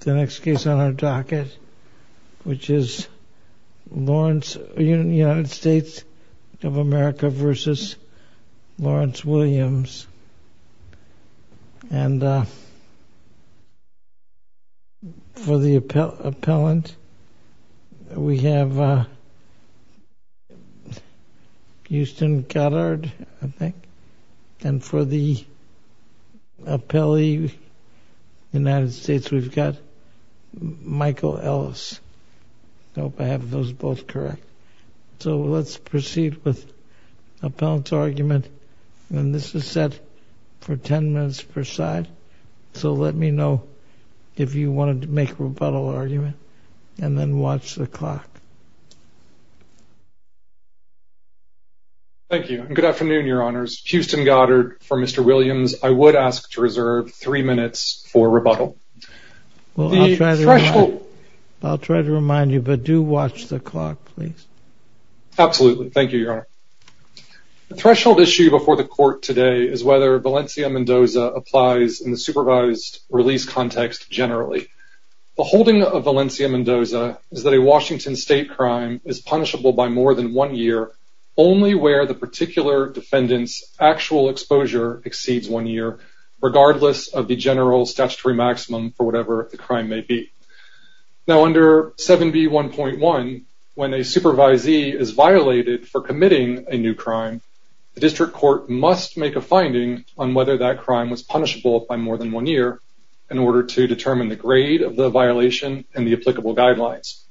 The next case on our docket, which is United States of America v. Lawrence Williams. And for the appellant, we have Houston Goddard, I think. And for the appellee, United States, we've got Michael Ellis. Nope, I have those both correct. So let's proceed with the appellant's argument. And this is set for 10 minutes per side. So let me know if you wanted to make a rebuttal argument, and then watch the clock. Thank you, and good afternoon, your honors. Houston Goddard for Mr. Williams. I would ask to reserve three minutes for rebuttal. I'll try to remind you, but do watch the clock, please. Absolutely, thank you, your honor. The threshold issue before the court today is whether Valencia Mendoza applies in the supervised release context generally. The holding of Valencia Mendoza is that a Washington state crime is punishable by more than one year, only where the particular defendant's actual exposure exceeds one year, regardless of the general statutory maximum for whatever the crime may be. Now, under 7B1.1, when a supervisee is violated for committing a new crime, the district court must make a finding on whether that crime was punishable by more than one year in order to determine the grade of the violation and the applicable guidelines.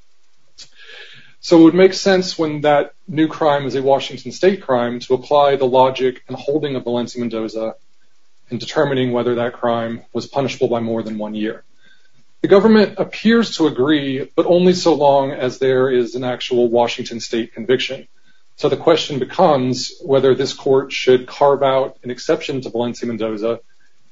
So it would make sense when that new crime is a Washington state crime to apply the logic and holding of Valencia Mendoza in determining whether that crime was punishable by more than one year. The government appears to agree, but only so long as there is an actual Washington state conviction. So the question becomes whether this court should carve out an exception to Valencia Mendoza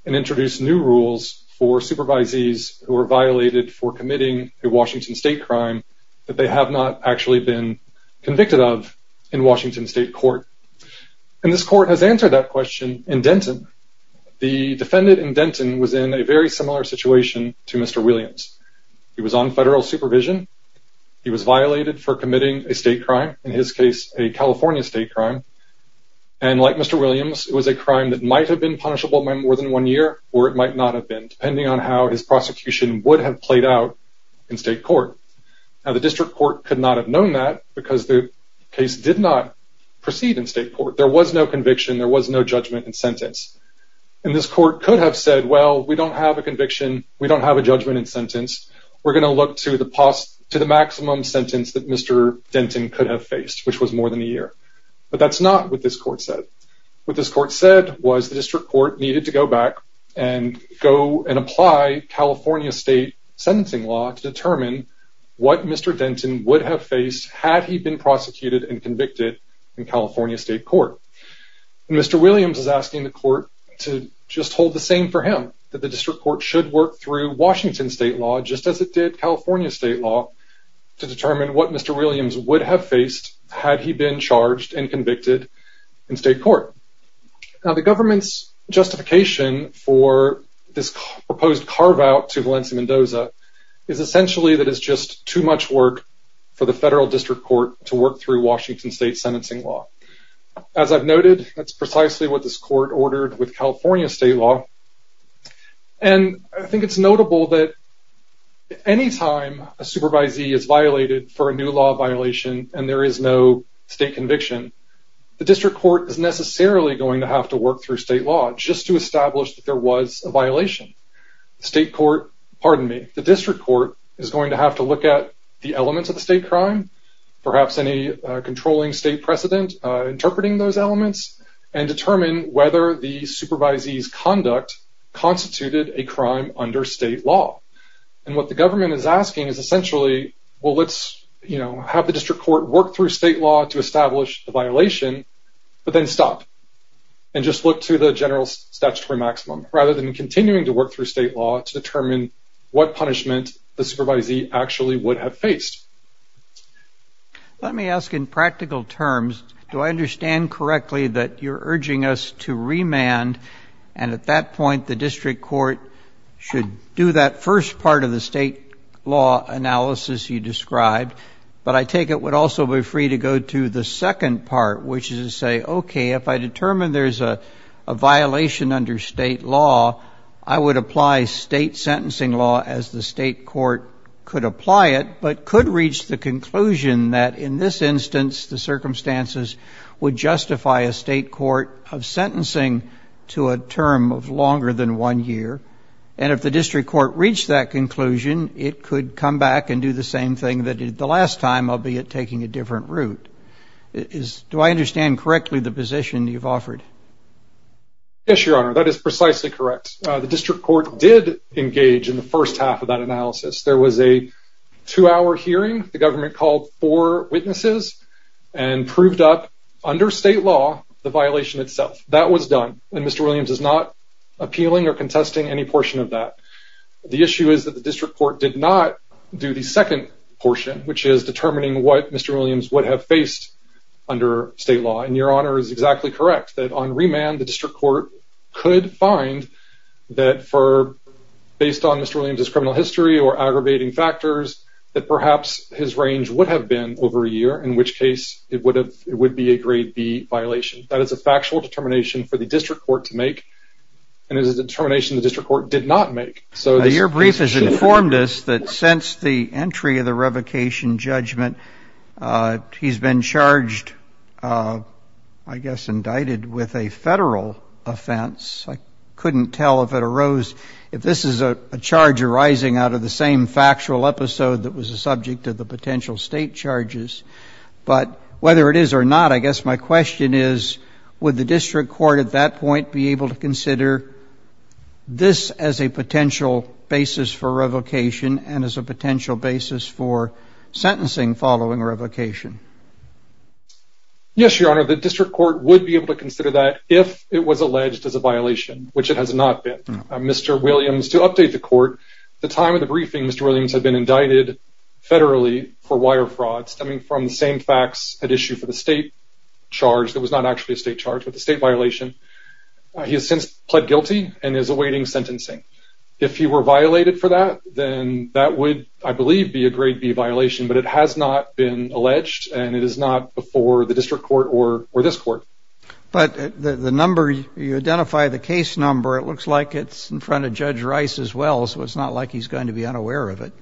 and introduce new rules for supervisees who are violated for committing a Washington state crime that they have not actually been convicted of in Washington state court. And this court has answered that question in Denton. The defendant in Denton was in a very similar situation to Mr. Williams. He was on federal supervision. He was violated for committing a state crime, in his case, a California state crime. And like Mr. Williams, it was a crime that might have been punishable by more than one year or it might not have been, depending on how his prosecution would have played out in state court. Now, the district court could not have known that because the case did not proceed in state court. There was no conviction. There was no judgment and sentence. And this court could have said, well, we don't have a conviction. We don't have a judgment and sentence. We're going to look to the maximum sentence that Mr. Denton could have faced, which was more than a year. But that's not what this court said. What this court said was the district court needed to go back and go and apply California state sentencing law to determine what Mr. Denton would have faced had he been prosecuted and convicted in California state court. And Mr. Williams is asking the court to just hold the same for him, that the district court should work through Washington state law, just as it did California state law, to determine what Mr. Williams would have faced had he been charged and convicted in state court. Now, the government's justification for this proposed carve-out to Valencia Mendoza is essentially that it's just too much work for the federal district court to work through Washington state sentencing law. As I've noted, that's precisely what this court ordered with California state law. And I think it's notable that any time a supervisee is violated for a new law violation and there is no state conviction, the district court is necessarily going to have to work through state law just to establish that there was a violation. The district court is going to have to look at the elements of the state crime, perhaps any controlling state precedent interpreting those elements, and determine whether the supervisee's conduct constituted a crime under state law. And what the government is asking is essentially, well, let's have the district court work through state law to establish the violation, but then stop and just look to the general statutory maximum, rather than continuing to work through state law to determine what punishment the supervisee actually would have faced. Let me ask in practical terms, do I understand correctly that you're urging us to remand? And at that point, the district court should do that first part of the state law analysis you described. But I take it would also be free to go to the second part, which is to say, OK, if I determine there's a violation under state law, I would apply state sentencing law as the state court could apply it, but could reach the conclusion that in this instance, the circumstances would justify a state court of sentencing to a term of longer than one year. And if the district court reached that conclusion, it could come back and do the same thing that it did the last time, albeit taking a different route. Do I understand correctly the position you've offered? Yes, Your Honor, that is precisely correct. The district court did engage in the first half of that analysis. There was a two-hour hearing. The government called four witnesses and proved up under state law the violation itself. That was done, and Mr. Williams is not appealing or contesting any portion of that. The issue is that the district court did not do the second portion, which is determining what Mr. Williams would have faced under state law. And Your Honor is exactly correct that on remand, the district court could find that for, based on Mr. Williams' criminal history or aggravating factors, that perhaps his range would have been over a year, in which case it would be a grade B violation. That is a factual determination for the district court to make, and it is a determination the district court did not make. Your brief has informed us that since the entry of the revocation judgment, he's been charged, I guess indicted with a federal offense. I couldn't tell if it arose, if this is a charge arising out of the same factual episode that was the subject of the potential state charges. But whether it is or not, I guess my question is, would the district court at that point be able to consider this as a potential basis for revocation and as a potential basis for sentencing following revocation? Yes, Your Honor, the district court would be able to consider that if it was alleged as a violation, which it has not been. Mr. Williams, to update the court, at the time of the briefing, Mr. Williams had been indicted federally for wire fraud, stemming from the same facts at issue for the state charge. It was not actually a state charge, but a state violation. He has since pled guilty and is awaiting sentencing. If he were violated for that, then that would, I believe, be a grade B violation. But it has not been alleged, and it is not before the district court or this court. But the number you identify, the case number, it looks like it's in front of Judge Rice as well, so it's not like he's going to be unaware of it.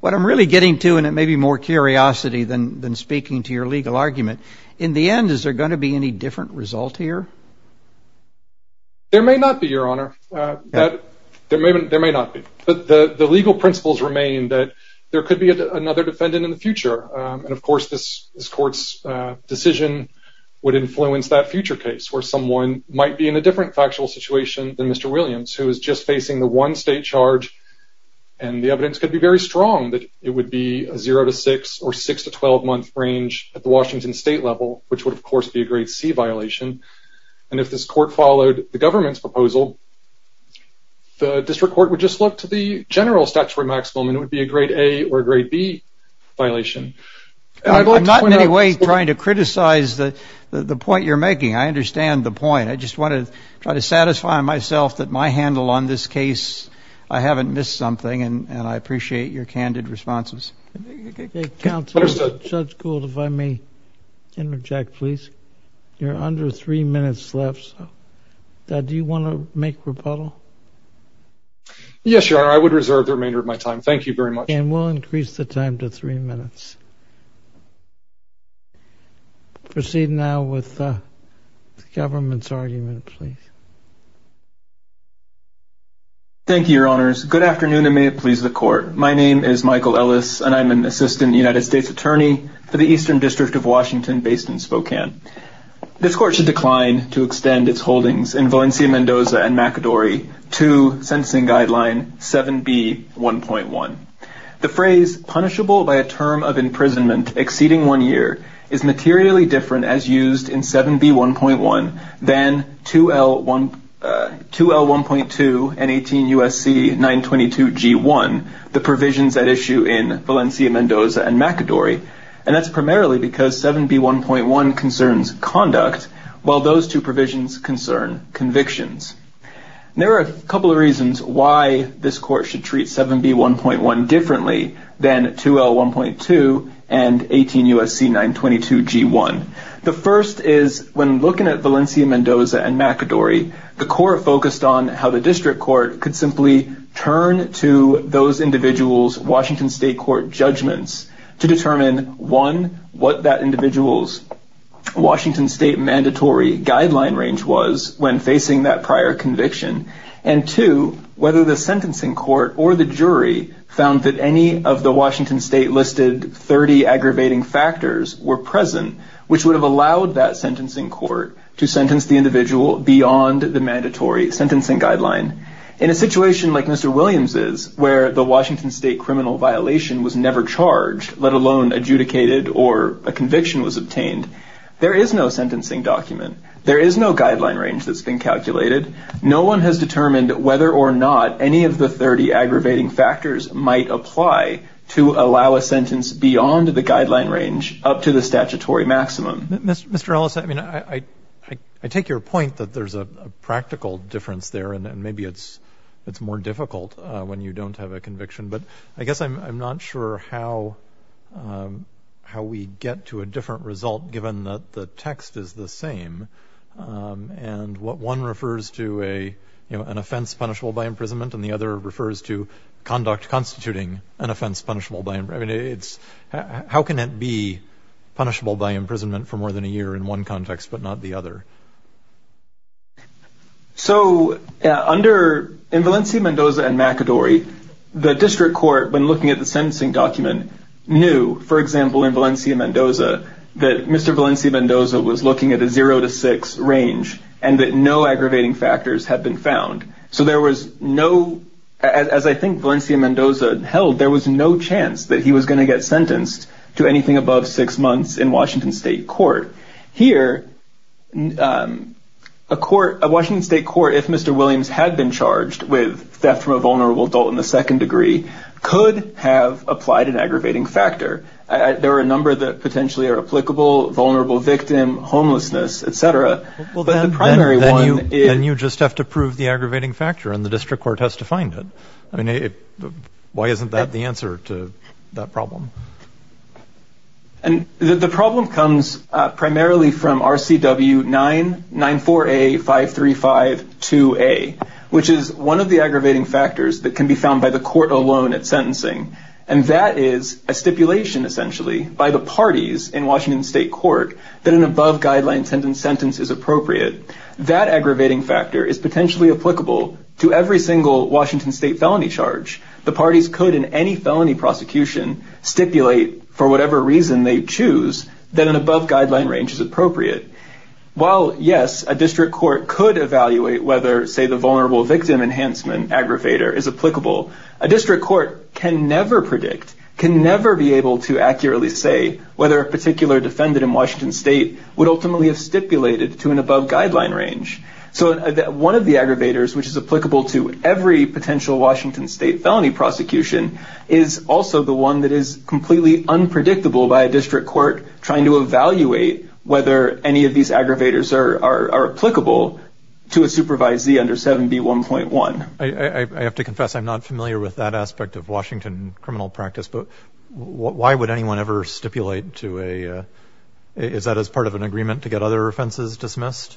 What I'm really getting to, and it may be more curiosity than speaking to your legal argument, in the end, is there going to be any different result here? There may not be, Your Honor. There may not be. But the legal principles remain that there could be another defendant in the future, and, of course, this court's decision would influence that future case where someone might be in a different factual situation than Mr. Williams, who is just facing the one state charge, and the evidence could be very strong that it would be a 0-6 or 6-12 month range at the Washington state level, which would, of course, be a grade C violation. And if this court followed the government's proposal, the district court would just look to the general statutory maximum, and it would be a grade A or a grade B violation. I'm not in any way trying to criticize the point you're making. I understand the point. I just want to try to satisfy myself that my handle on this case, I haven't missed something, and I appreciate your candid responses. Okay, counsel. Understood. Judge Gould, if I may interject, please. You're under three minutes left. Do you want to make rebuttal? Yes, Your Honor. I would reserve the remainder of my time. Thank you very much. And we'll increase the time to three minutes. Proceed now with the government's argument, please. Thank you, Your Honors. Good afternoon, and may it please the Court. My name is Michael Ellis, and I'm an assistant United States attorney for the Eastern District of Washington based in Spokane. This Court should decline to extend its holdings in Valencia, Mendoza, and McAdory to Sentencing Guideline 7B.1.1. The phrase, punishable by a term of imprisonment exceeding one year, is materially different as used in 7B.1.1 than 2L.1.2 and 18 U.S.C. 922 G.1, the provisions at issue in Valencia, Mendoza, and McAdory, and that's primarily because 7B.1.1 concerns conduct, while those two provisions concern convictions. There are a couple of reasons why this Court should treat 7B.1.1 differently than 2L.1.2 and 18 U.S.C. 922 G.1. The first is when looking at Valencia, Mendoza, and McAdory, the Court focused on how the district court could simply turn to those individuals' Washington State court judgments to determine, one, what that individual's Washington State mandatory guideline range was when facing that prior conviction, and two, whether the sentencing court or the jury found that any of the Washington State listed 30 aggravating factors were present, which would have allowed that sentencing court to sentence the individual beyond the mandatory sentencing guideline. In a situation like Mr. Williams's, where the Washington State criminal violation was never charged, let alone adjudicated or a conviction was obtained, there is no sentencing document. There is no guideline range that's been calculated. No one has determined whether or not any of the 30 aggravating factors might apply to allow a sentence beyond the guideline range up to the statutory maximum. Mr. Ellis, I mean, I take your point that there's a practical difference there, and maybe it's more difficult when you don't have a conviction, but I guess I'm not sure how we get to a different result given that the text is the same and what one refers to an offense punishable by imprisonment and the other refers to conduct constituting an offense punishable by imprisonment. I mean, how can it be punishable by imprisonment for more than a year in one context but not the other? So in Valencia-Mendoza and McAdory, the district court, when looking at the sentencing document, knew, for example, in Valencia-Mendoza, that Mr. Valencia-Mendoza was looking at a 0 to 6 range and that no aggravating factors had been found. So as I think Valencia-Mendoza held, there was no chance that he was going to get sentenced to anything above six months in Washington State court. Here, a Washington State court, if Mr. Williams had been charged with theft from a vulnerable adult in the second degree, could have applied an aggravating factor. There are a number that potentially are applicable, vulnerable victim, homelessness, et cetera. Then you just have to prove the aggravating factor, and the district court has to find it. I mean, why isn't that the answer to that problem? And the problem comes primarily from RCW-994A-535-2A, which is one of the aggravating factors that can be found by the court alone at sentencing, and that is a stipulation, essentially, by the parties in Washington State court that an above-guideline sentence is appropriate. That aggravating factor is potentially applicable to every single Washington State felony charge. The parties could, in any felony prosecution, stipulate, for whatever reason they choose, that an above-guideline range is appropriate. While, yes, a district court could evaluate whether, say, the vulnerable victim enhancement aggravator is applicable, a district court can never predict, can never be able to accurately say, whether a particular defendant in Washington State would ultimately have stipulated to an above-guideline range. So one of the aggravators which is applicable to every potential Washington State felony prosecution is also the one that is completely unpredictable by a district court trying to evaluate whether any of these aggravators are applicable to a supervisee under 7B1.1. I have to confess I'm not familiar with that aspect of Washington criminal practice, but why would anyone ever stipulate to a, is that as part of an agreement to get other offenses dismissed?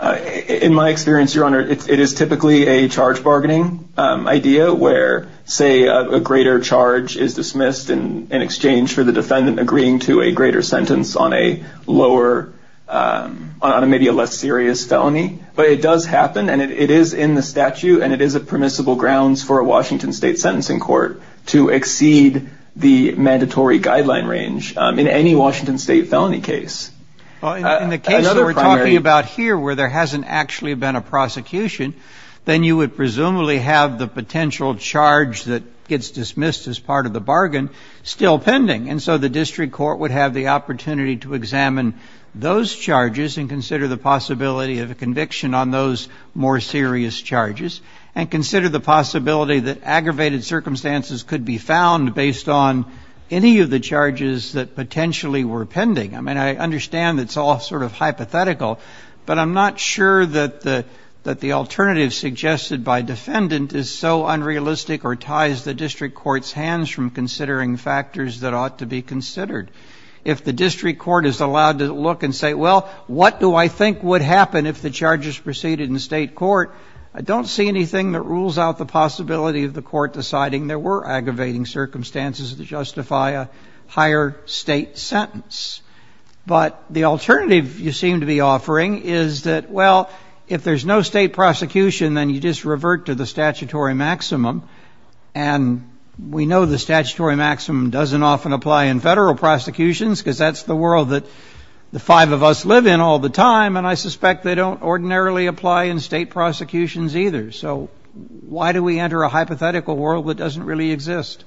In my experience, Your Honor, it is typically a charge bargaining idea where, say, a greater charge is dismissed in exchange for the defendant agreeing to a greater sentence on a lower, on maybe a less serious felony. But it does happen and it is in the statute and it is a permissible grounds for a Washington State sentencing court to exceed the mandatory guideline range in any Washington State felony case. Well, in the case that we're talking about here where there hasn't actually been a prosecution, then you would presumably have the potential charge that gets dismissed as part of the bargain still pending. And so the district court would have the opportunity to examine those charges and consider the possibility of a conviction on those more serious charges and consider the possibility that aggravated circumstances could be found based on any of the charges that potentially were pending. I mean, I understand it's all sort of hypothetical, but I'm not sure that the alternative suggested by defendant is so unrealistic or ties the district court's hands from considering factors that ought to be considered. If the district court is allowed to look and say, well, what do I think would happen if the charges proceeded in state court, I don't see anything that rules out the possibility of the court deciding there were aggravating circumstances that justify a higher state sentence. But the alternative you seem to be offering is that, well, if there's no state prosecution, then you just revert to the statutory maximum. And we know the statutory maximum doesn't often apply in federal prosecutions because that's the world that the five of us live in all the time. And I suspect they don't ordinarily apply in state prosecutions either. So why do we enter a hypothetical world that doesn't really exist?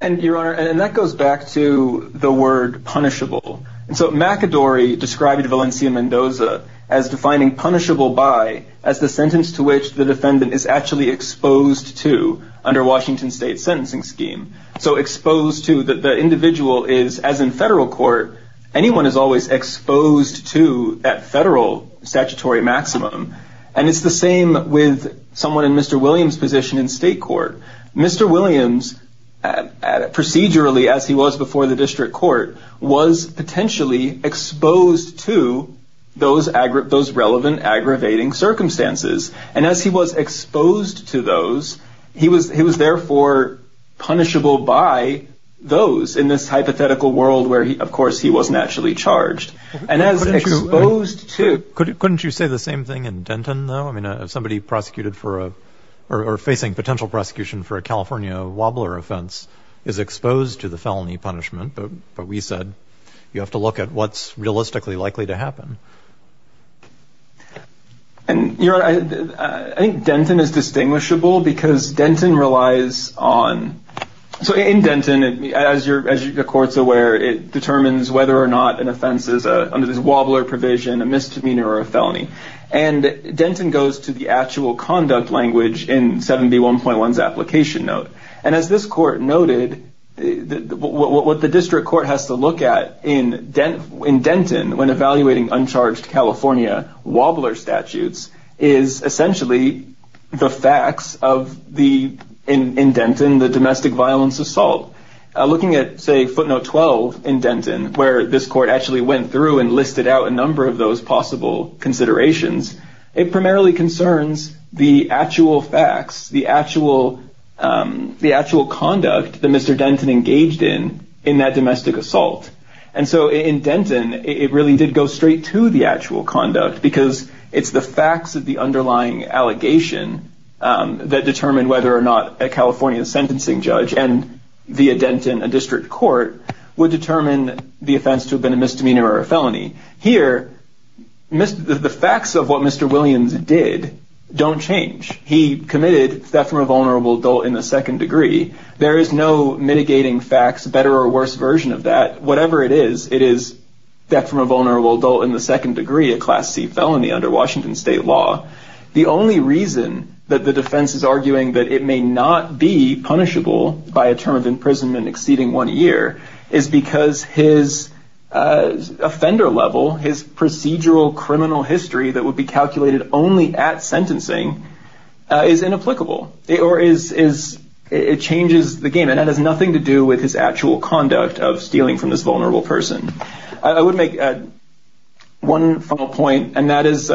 And your honor, and that goes back to the word punishable. And so McAdory described Valencia Mendoza as defining punishable by as the sentence to which the defendant is actually exposed to under Washington state sentencing scheme. So exposed to the individual is as in federal court. Anyone is always exposed to that federal statutory maximum. And it's the same with someone in Mr. Williams position in state court. Mr. Williams, procedurally, as he was before the district court, was potentially exposed to those relevant aggravating circumstances. And as he was exposed to those, he was therefore punishable by those in this hypothetical world where, of course, he was naturally charged. And as exposed to. Couldn't you say the same thing in Denton, though? I mean, somebody prosecuted for or facing potential prosecution for a California wobbler offense is exposed to the felony punishment. But we said you have to look at what's realistically likely to happen. And I think Denton is distinguishable because Denton relies on. So in Denton, as you're as the court's aware, it determines whether or not an offense is under this wobbler provision, a misdemeanor or a felony. And Denton goes to the actual conduct language in 71.1 application note. And as this court noted, what the district court has to look at in Denton, when evaluating uncharged California wobbler statutes, is essentially the facts of the indent in the domestic violence assault. Looking at, say, footnote 12 in Denton, where this court actually went through and listed out a number of those possible considerations. It primarily concerns the actual facts, the actual the actual conduct that Mr. Denton engaged in in that domestic assault. And so in Denton, it really did go straight to the actual conduct because it's the facts of the underlying allegation that determined whether or not a California sentencing judge and the indent in a district court would determine the offense to have been a misdemeanor or a felony here. The facts of what Mr. Williams did don't change. He committed theft from a vulnerable adult in the second degree. There is no mitigating facts, better or worse version of that. Whatever it is, it is theft from a vulnerable adult in the second degree, a class C felony under Washington state law. The only reason that the defense is arguing that it may not be punishable by a term of imprisonment exceeding one year is because his offender level, his procedural criminal history that would be calculated only at sentencing is inapplicable or is is it changes the game. And that has nothing to do with his actual conduct of stealing from this vulnerable person. I would make one final point, and that is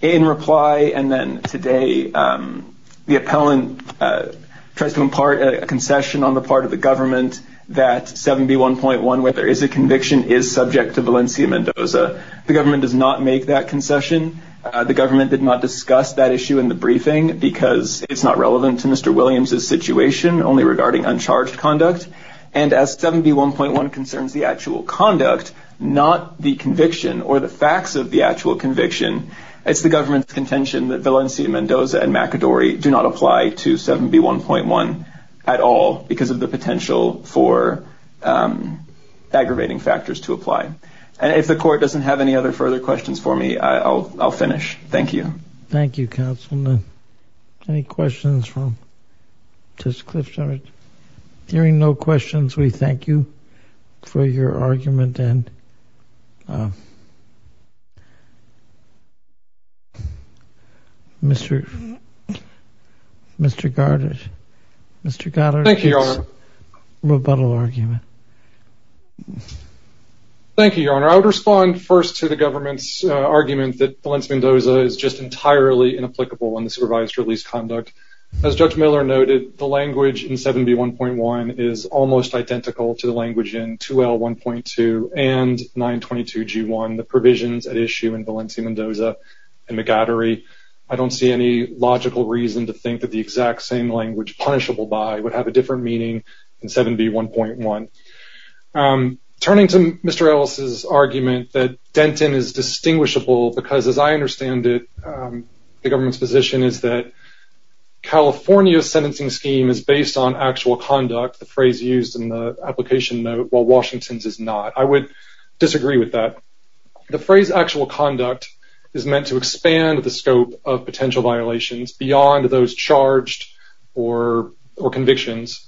in reply. And then today the appellant tries to impart a concession on the part of the government that 7B1.1, where there is a conviction, is subject to Valencia Mendoza. The government does not make that concession. The government did not discuss that issue in the briefing because it's not relevant to Mr. Williams's situation only regarding uncharged conduct. And as 7B1.1 concerns the actual conduct, not the conviction or the facts of the actual conviction, it's the government's contention that Valencia Mendoza and McAdory do not apply to 7B1.1 at all because of the potential for aggravating factors to apply. And if the court doesn't have any other further questions for me, I'll finish. Thank you. Thank you, counsel. Any questions from Judge Kliff? Hearing no questions, we thank you for your argument. And Mr. Mr. Gardner, Mr. Gardner. Thank you, Your Honor. Thank you, Your Honor. I would respond first to the government's argument that Valencia Mendoza is just entirely inapplicable in the supervised release conduct. As Judge Miller noted, the language in 7B1.1 is almost identical to the language in 2L1.2 and 922G1, the provisions at issue in Valencia Mendoza and McAdory. I don't see any logical reason to think that the exact same language punishable by would have a different meaning in 7B1.1. Turning to Mr. Ellis' argument that Denton is distinguishable because, as I understand it, the government's position is that California's sentencing scheme is based on actual conduct, the phrase used in the application note, while Washington's is not. I would disagree with that. The phrase actual conduct is meant to expand the scope of potential violations beyond those charged or convictions.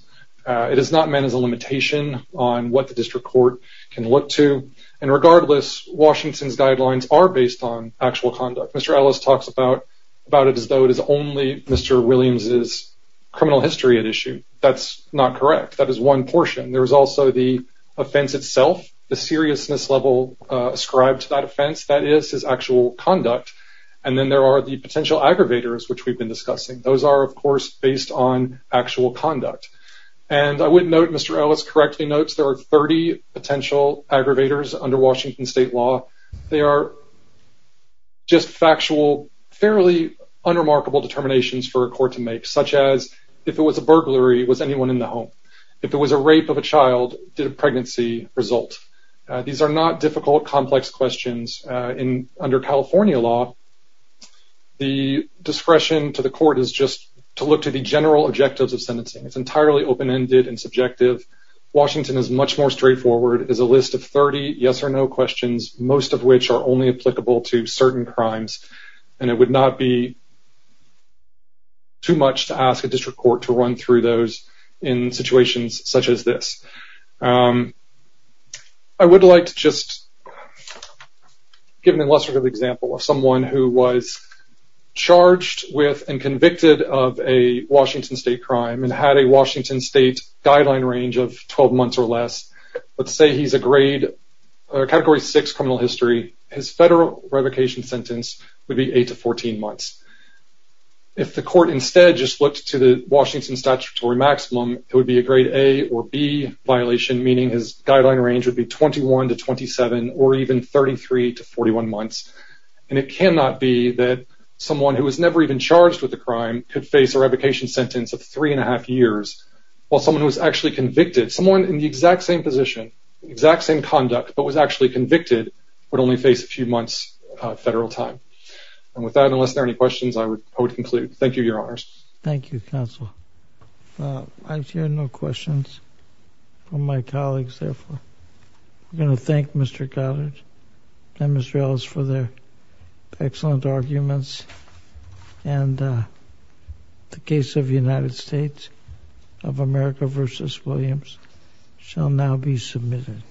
It is not meant as a limitation on what the district court can look to. And regardless, Washington's guidelines are based on actual conduct. Mr. Ellis talks about it as though it is only Mr. Williams' criminal history at issue. That's not correct. That is one portion. There is also the offense itself, the seriousness level ascribed to that offense. That is his actual conduct. And then there are the potential aggravators, which we've been discussing. Those are, of course, based on actual conduct. And I would note Mr. Ellis correctly notes there are 30 potential aggravators under Washington state law. They are just factual, fairly unremarkable determinations for a court to make, such as if it was a burglary, was anyone in the home? If it was a rape of a child, did a pregnancy result? These are not difficult, complex questions. Under California law, the discretion to the court is just to look to the general objectives of sentencing. It's entirely open-ended and subjective. Washington is much more straightforward. It is a list of 30 yes or no questions, most of which are only applicable to certain crimes. And it would not be too much to ask a district court to run through those in situations such as this. I would like to just give an illustrative example of someone who was charged with and convicted of a Washington state crime and had a Washington state guideline range of 12 months or less. Let's say he's a grade category 6 criminal history. His federal revocation sentence would be 8 to 14 months. If the court instead just looked to the Washington statutory maximum, it would be a grade A or B violation, meaning his guideline range would be 21 to 27 or even 33 to 41 months. And it cannot be that someone who was never even charged with a crime could face a revocation sentence of 3 1⁄2 years, while someone who was actually convicted, someone in the exact same position, exact same conduct, but was actually convicted, would only face a few months federal time. And with that, unless there are any questions, I would conclude. Thank you, Your Honors. Thank you, Counsel. I hear no questions from my colleagues, therefore. We're going to thank Mr. Goddard and Ms. Rales for their excellent arguments. And the case of the United States of America v. Williams shall now be submitted.